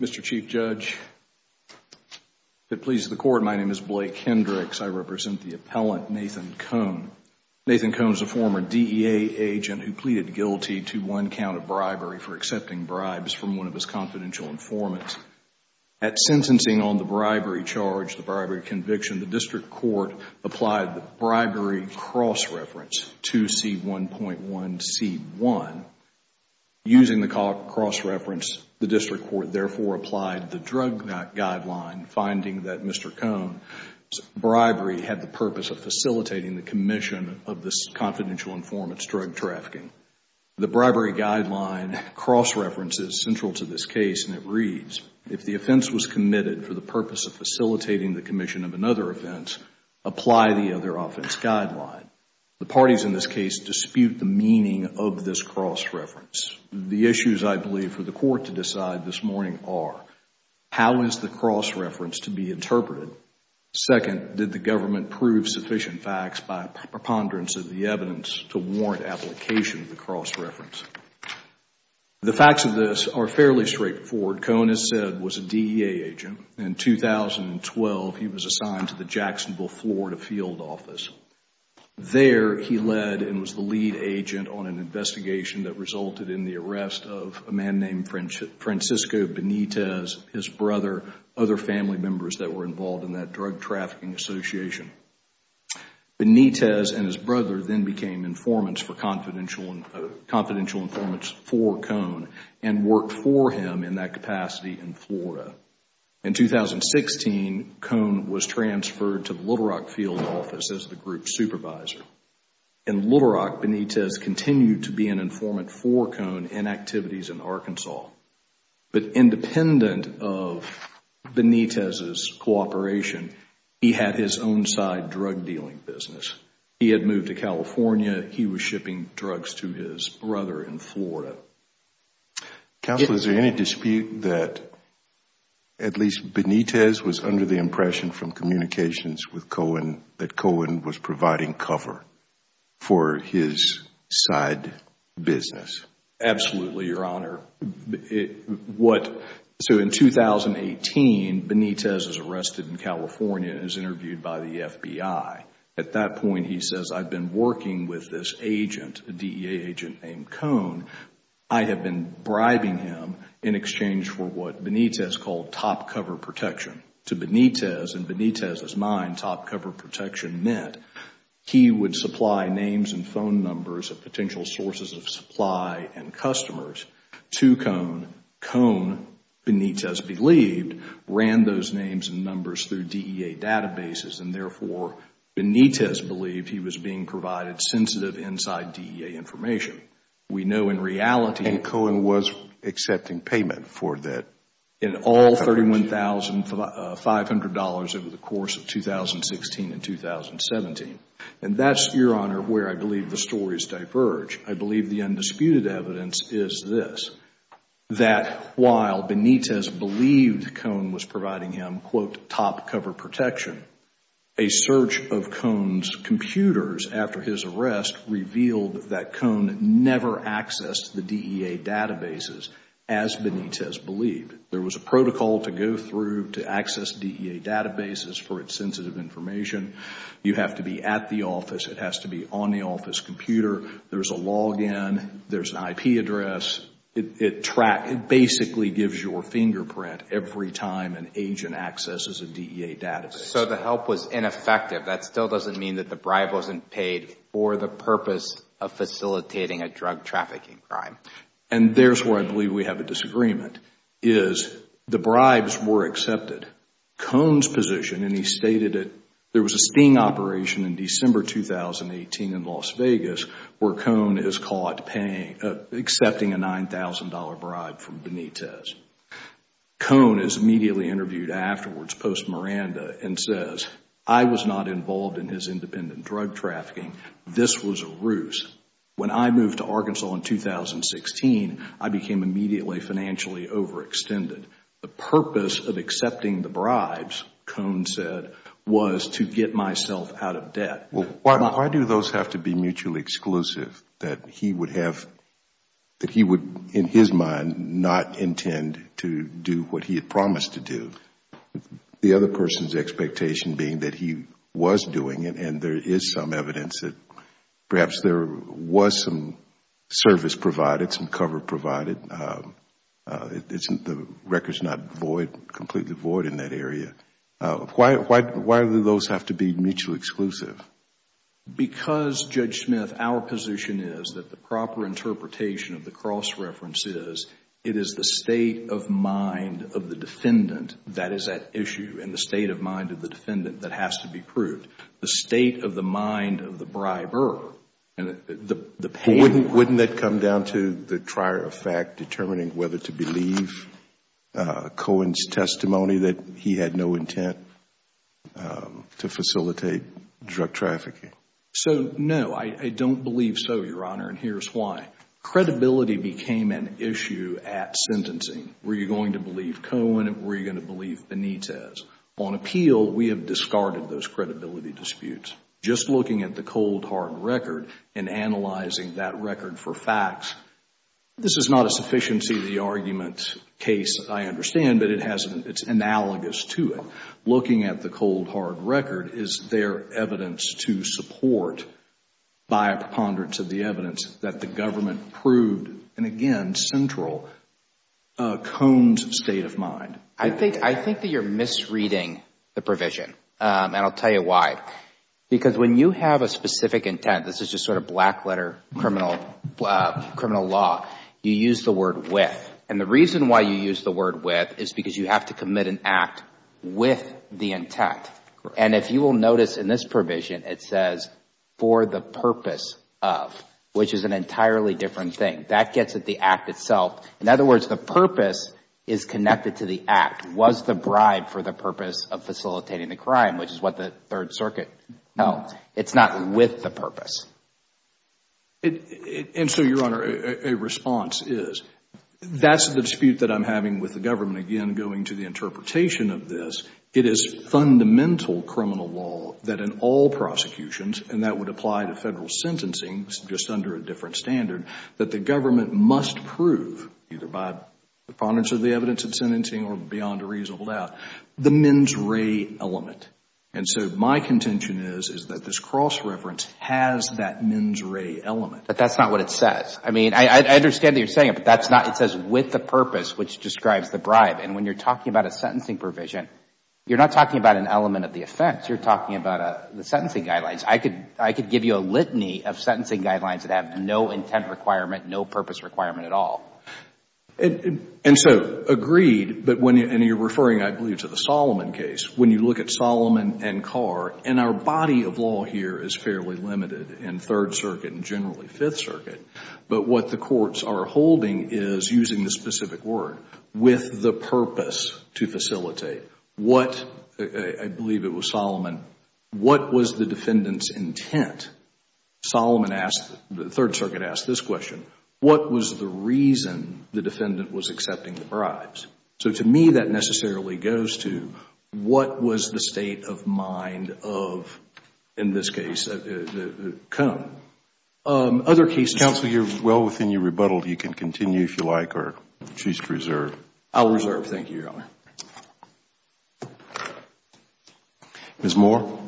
Mr. Chief Judge, if it pleases the Court, my name is Blake Hendricks. I represent the appellant Nathan Koen. Nathan Koen is a former DEA agent who pleaded guilty to one count of bribery for accepting bribes from one of his confidential informants. At sentencing on the bribery charge, the bribery conviction, the District Court applied the bribery cross-reference 2C1.1C1. Using the cross-reference, the District Court therefore applied the drug guideline finding that Mr. Koen's bribery had the purpose of facilitating the commission of this confidential informant's drug trafficking. The bribery guideline cross-reference is central to this case and it reads, if the offense was committed for the purpose of facilitating the commission of another offense, apply the other offense guideline. The parties in this case dispute the meaning of this cross-reference. The issues, I believe, for the Court to decide this morning are how is the cross-reference to be interpreted? Second, did the government prove sufficient facts by preponderance of the evidence to warrant application of the cross-reference? The facts of this are fairly straightforward. Koen, as said, was a DEA agent. In 2012, he was assigned to the Jacksonville, Florida, field office. There, he led and was the lead agent on an investigation that resulted in the arrest of a man named Francisco Benitez, his brother, other family members that were involved in that drug trafficking association. Benitez and his brother then became informants for confidential informants for Koen and worked for him in that capacity in Florida. In 2016, Koen was transferred to the Little Rock field office as the group supervisor. In Little Rock, Benitez continued to be an informant for Koen in activities in Arkansas. But independent of Benitez's cooperation, he had his own side drug dealing business. He had moved to California. He was shipping drugs to his brother in Florida. Counsel, is there any dispute that at least Benitez was under the impression from communications with Koen that Koen was providing cover for his side business? Absolutely, Your Honor. In 2018, Benitez is arrested in California and is interviewed by the FBI. At that point, he says, I've been working with this agent, a DEA agent named Koen. I have been bribing him in exchange for what Benitez called top cover protection. To Benitez, in Benitez's mind, top cover protection meant he would supply names and phone numbers of potential sources of supply and customers to Koen. Koen, Benitez believed, ran those names and numbers through DEA databases and, therefore, Benitez believed he was being provided sensitive inside DEA information. We know in reality And Koen was accepting payment for that? In all $31,500 over the course of 2016 and 2017. And that's, Your Honor, where I believe the stories diverge. I believe the undisputed evidence is this, that while Benitez believed Koen was providing him, quote, top cover protection, a search of Koen's computers after his arrest revealed that Koen never accessed the DEA databases as Benitez believed. There was a protocol to go through to access DEA databases for its sensitive information. You have to be at the office. It has to be on the office computer. There's a log in. There's an IP address. It basically gives your fingerprint every time an agent accesses a DEA database. So the help was ineffective. That still doesn't mean that the bribe wasn't paid for the purpose of facilitating a drug trafficking crime. And there's where I believe we have a disagreement, is the bribes were accepted. Koen's position, and he stated it, there was a sting operation in December 2018 in Las Vegas where Koen is caught accepting a $9,000 bribe from Benitez. Koen is immediately interviewed afterwards, post-Miranda, and says, I was not involved in his independent drug trafficking. This was a ruse. When I moved to Arkansas in 2016, I became immediately financially overextended. The purpose of accepting the bribes, Koen Why do those have to be mutually exclusive, that he would, in his mind, not intend to do what he had promised to do? The other person's expectation being that he was doing it and there is some evidence that perhaps there was some service provided, some cover provided. Isn't the records not void, completely void in that area? Why do those have to be mutually exclusive? Because Judge Smith, our position is that the proper interpretation of the cross-reference is it is the state of mind of the defendant that is at issue and the state of mind of the defendant that has to be proved. The state of the mind of the briber, and the pain Wouldn't that come down to the trier of fact determining whether to believe Koen's testimony that he had no intent to facilitate drug trafficking? So no, I don't believe so, Your Honor, and here's why. Credibility became an issue at sentencing. Were you going to believe Koen? Were you going to believe Benitez? On appeal, we have discarded those credibility disputes. Just looking at the cold, hard record and analyzing that record for facts, this is not a sufficiency of the argument case, I understand, but it's analogous to it. Looking at the cold, hard record, is there evidence to support, by a preponderance of the evidence, that the government proved, and again, central, Koen's state of mind? I think that you're misreading the provision, and I'll tell you why. Because when you have a specific intent, this is just sort of black letter criminal law, you use the word with. And the reason why you use the word with is because you have to commit an act with the intent. And if you will notice in this provision, it says, for the purpose of, which is an entirely different thing. That gets at the act itself. In other words, the purpose is connected to the act. Was the bribe for the purpose of facilitating the crime, which is what the with the purpose? And so, Your Honor, a response is, that's the dispute that I'm having with the government. Again, going to the interpretation of this, it is fundamental criminal law that in all prosecutions, and that would apply to Federal sentencing, just under a different standard, that the government must prove, either by preponderance of the evidence in sentencing or beyond a reasonable doubt, the mens rea element. And so my contention is, is that this cross-reference has that mens rea element. But that's not what it says. I mean, I understand that you're saying it, but that's not, it says with the purpose, which describes the bribe. And when you're talking about a sentencing provision, you're not talking about an element of the offense. You're talking about the sentencing guidelines. I could give you a litany of sentencing guidelines that have no intent requirement, no purpose requirement at all. And so, agreed, but when you're referring, I believe, to the Solomon case, when you look at Solomon and Carr, and our body of law here is fairly limited in Third Circuit and generally Fifth Circuit, but what the courts are holding is, using the specific word, with the purpose to facilitate. What, I believe it was Solomon, what was the defendant's intent? The Third Circuit asked this question, what was the reason the defendant was accepting the bribes? So to me, that necessarily goes to, what was the state of mind of, in this case, Cone? Other cases Counsel, you're well within your rebuttal. You can continue if you like, or choose to I'll reserve. Thank you, Your Honor. Ms. Moore.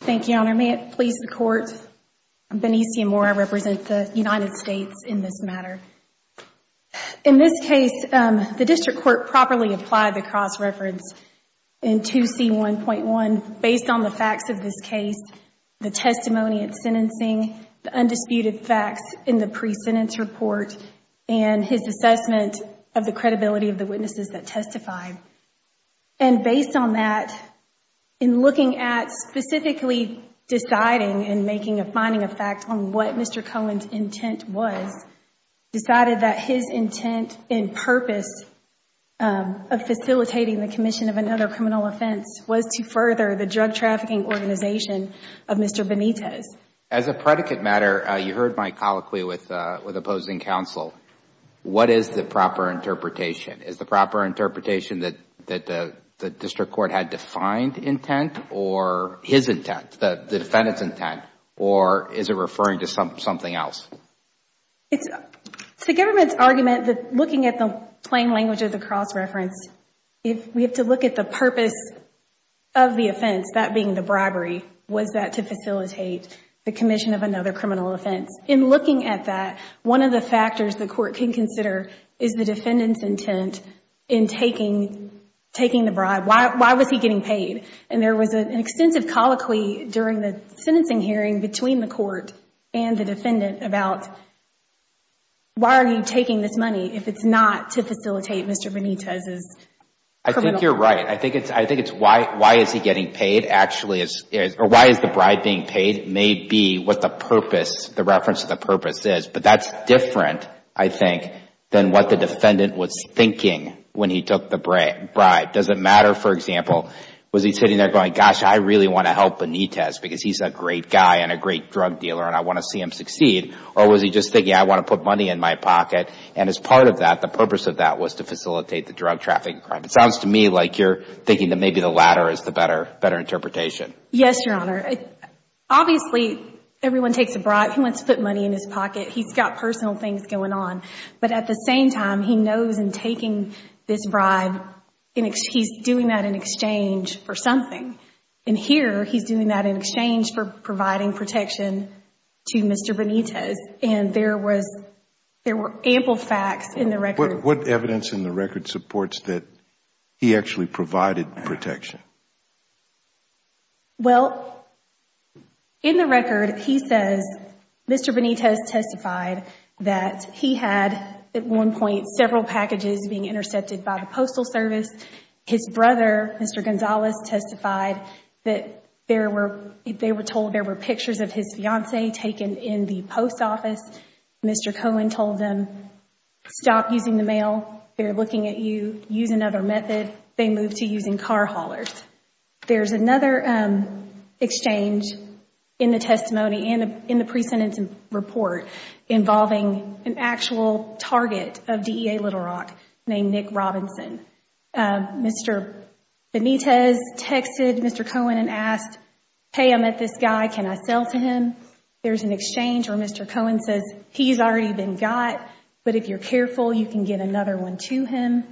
Thank you, Your Honor. May it please the Court, I'm Benicia Moore. I represent the United In this case, the district court properly applied the cross-reference in 2C1.1 based on the facts of this case, the testimony at sentencing, the undisputed facts in the pre-sentence report, and his assessment of the credibility of the witnesses that testified. And based on that, in looking at specifically deciding and making a finding of fact on what Mr. Cohen's intent was, decided that his intent and purpose of facilitating the commission of another criminal offense was to further the drug trafficking organization of Mr. Benitez. As a predicate matter, you heard my colloquy with opposing counsel. What is the proper interpretation? Is the proper interpretation that the district court had defined intent or his intent, the defendant's intent, or is it referring to something else? It's the government's argument that looking at the plain language of the cross-reference, we have to look at the purpose of the offense, that being the bribery. Was that to facilitate the commission of another criminal offense? In looking at that, one of the factors the court can consider is the defendant's intent in taking the bribe. Why was he getting paid? And there was an extensive colloquy during the sentencing hearing between the court and the defendant about, why are you taking this money if it's not to facilitate Mr. Benitez's criminal offense? I think you're right. I think it's why is he getting paid, actually, or why is the bribe being paid may be what the purpose, the reference to the purpose is. But that's different, I think, than what the defendant was thinking when he took the bribe. Does it matter, for instance, if he's sitting there going, gosh, I really want to help Benitez because he's a great guy and a great drug dealer and I want to see him succeed, or was he just thinking, I want to put money in my pocket? And as part of that, the purpose of that was to facilitate the drug trafficking crime. It sounds to me like you're thinking that maybe the latter is the better interpretation. Yes, Your Honor. Obviously, everyone takes a bribe. He wants to put money in his pocket. He's got personal things going on. But at the same time, he knows in taking this bribe, he's doing that in exchange for something. And here, he's doing that in exchange for providing protection to Mr. Benitez. And there were ample facts in the record. What evidence in the record supports that he actually provided protection? Well, in the record, he says Mr. Benitez testified that he had, at one point, several packages being intercepted by the Postal Service. His brother, Mr. Gonzalez, testified that they were told there were pictures of his fiancee taken in the post office. Mr. Cohen told them, stop using the mail. They're looking at you. Use another method. They moved to using car haulers. There's another exchange in the testimony, in the pre-sentence report, involving an actual target of DEA Little Rock named Nick Robinson. Mr. Benitez texted Mr. Cohen and asked, hey, I'm at this guy. Can I sell to him? There's an exchange where Mr. Cohen says, he's already been got, but if you're careful, you can get another one to him.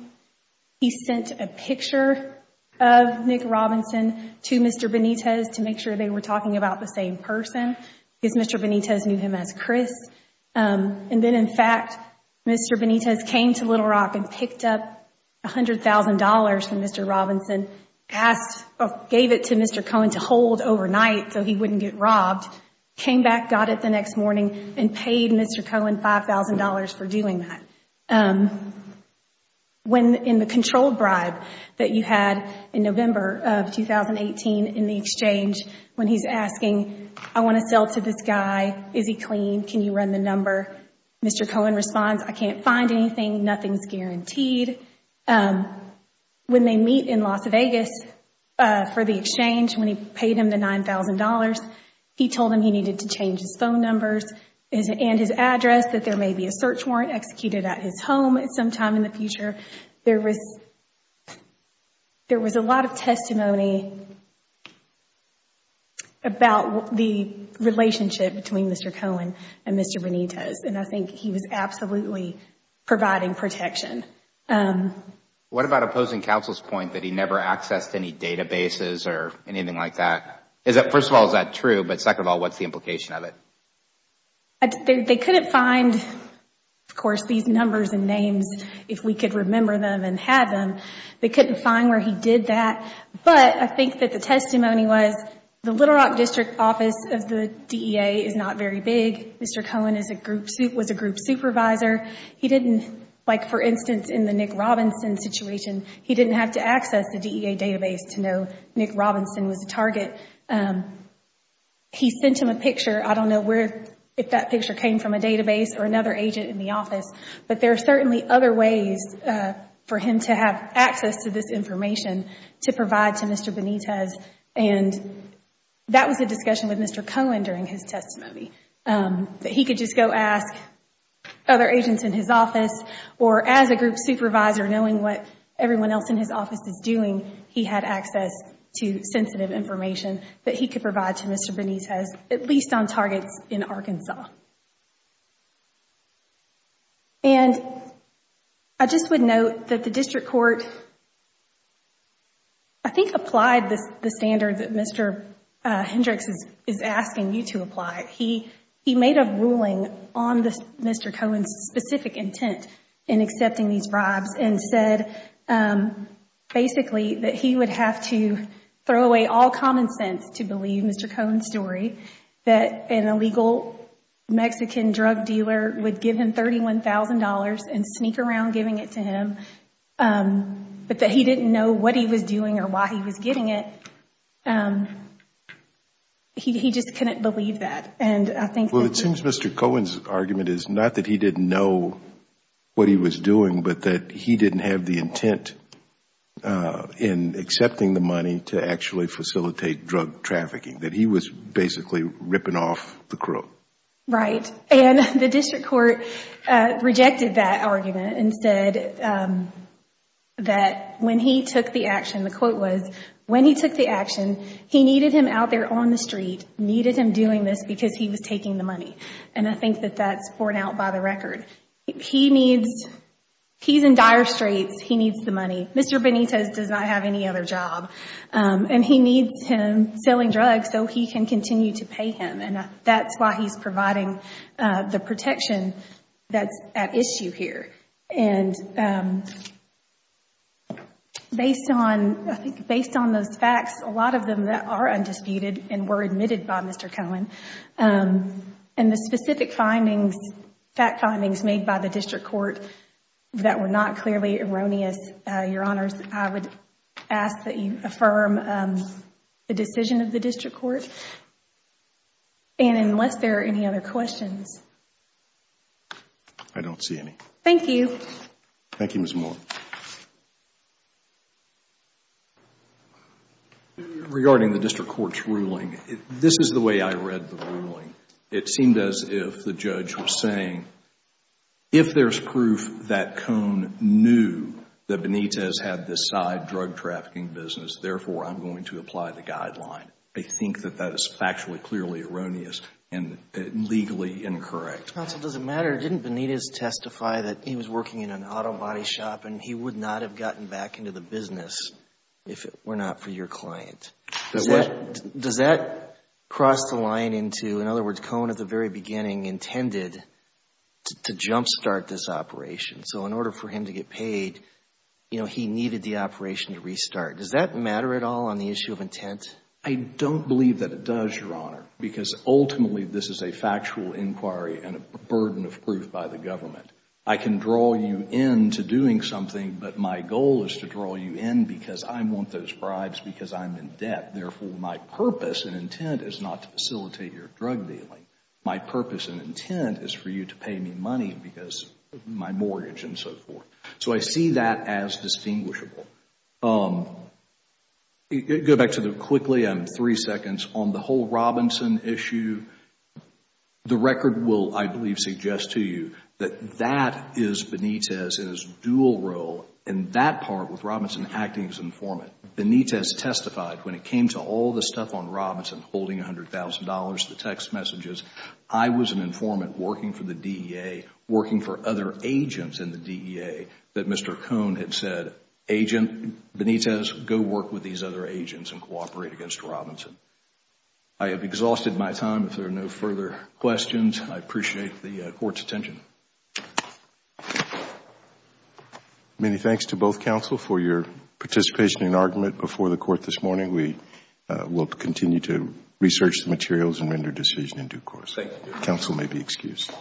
He sent a picture of Nick Robinson to Mr. Benitez to make sure they were talking about the same person because Mr. Benitez knew him as Chris. Then, in fact, Mr. Benitez came to Little Rock and picked up $100,000 from Mr. Robinson, gave it to Mr. Cohen to hold overnight so he wouldn't get robbed, came back, got it the next morning, and paid Mr. Cohen $5,000 for doing that. When in the controlled bribe that you had in November of 2018 in the exchange, when he's asking, I want to sell to this guy. Is he clean? Can you run the number? Mr. Cohen responds, I can't find anything. Nothing's guaranteed. When they meet in Las Vegas for the exchange, when he paid him the $9,000, he told him he needed to change his phone numbers and his address, that there may be a search warrant executed at his home sometime in the future. There was a lot of testimony about the relationship between Mr. Cohen and Mr. Benitez. I think he was absolutely providing protection. What about opposing counsel's point that he never accessed any databases or anything like that? First of all, is that true? Second of all, what's the implication of it? They couldn't find, of course, these numbers and names if we could remember them and had them. They couldn't find where he did that, but I think that the testimony was the Little Rock District Office of the DEA is not very big. Mr. Cohen was a group supervisor. For instance, in the Nick Robinson situation, he didn't have to access the DEA database to know Nick Robinson was the target. He sent him a picture. I don't know if that picture came from a database or another agent in the office, but there are certainly other ways for him to have access to this information to provide to Mr. Benitez. That was a discussion with Mr. Cohen during his testimony, that he could just go ask other agents in his office or as a group supervisor, knowing what everyone else in his office is doing, he had access to sensitive information that he could provide to Mr. Benitez, at least on targets in Arkansas. I just would note that the district court, I think, applied the standard that Mr. Hendricks is asking you to apply. He made a ruling on Mr. Cohen's specific intent in accepting these bribes and said, basically, that he would have to throw away all common sense to believe Mr. Cohen's story, that an illegal Mexican drug dealer would give him $31,000 and sneak around giving it to him, but that he didn't know what he was doing or why he was getting it. He just couldn't believe that. Well, it seems Mr. Cohen's argument is not that he didn't know what he was doing, but that he didn't have the intent in accepting the money to actually facilitate drug trafficking, that he was basically ripping off the crook. Right. The district court rejected that argument and said that when he took the action, the action, he needed him out there on the street, needed him doing this because he was taking the money. I think that that's borne out by the record. He's in dire straits. He needs the money. Mr. Benitez does not have any other job. He needs him selling drugs so he can continue to pay him. That's why he's providing the protection that's at issue here. Based on those facts, a lot of them are undisputed and were admitted by Mr. Cohen. The specific findings, fact findings made by the district court that were not clearly erroneous, Your Honors, I would ask that you affirm the decision of the district court. Unless there are any other questions. I don't see any. Thank you. Thank you, Ms. Moore. Regarding the district court's ruling, this is the way I read the ruling. It seemed as if the judge was saying, if there's proof that Cohen knew that Benitez had this side drug trafficking business, therefore I'm going to apply the guideline. I think that that is factually clearly erroneous and legally incorrect. Counsel, does it matter? Didn't Benitez testify that he was working in an auto body shop and he would not have gotten back into the business if it were not for your client? Does that cross the line into, in other words, Cohen at the very beginning intended to jump start this operation? So in order for him to get paid, you know, he needed the operation to restart. Does that matter at all on the issue of intent? I don't believe that it does, Your Honor, because ultimately this is a factual inquiry and a burden of proof by the government. I can draw you in to doing something, but my goal is to draw you in because I want those bribes because I'm in debt. Therefore, my purpose and intent is not to facilitate your drug dealing. My purpose and intent is for you to pay me money because of my mortgage and so forth. So I see that as distinguishable. Go back to the quickly, I'm three seconds. On the whole Robinson issue, the record will, I believe, suggest to you that that is Benitez's dual role in that part with Robinson acting as informant. Benitez testified when it came to all the stuff on Robinson, holding $100,000, the text messages. I was an informant working for the DEA, working for other agents in the Benitez, go work with these other agents and cooperate against Robinson. I have exhausted my time. If there are no further questions, I appreciate the court's attention. Many thanks to both counsel for your participation and argument before the court this morning. We will continue to research the materials and render a decision in due course. Thank you, Your Honor. Counsel may be excused.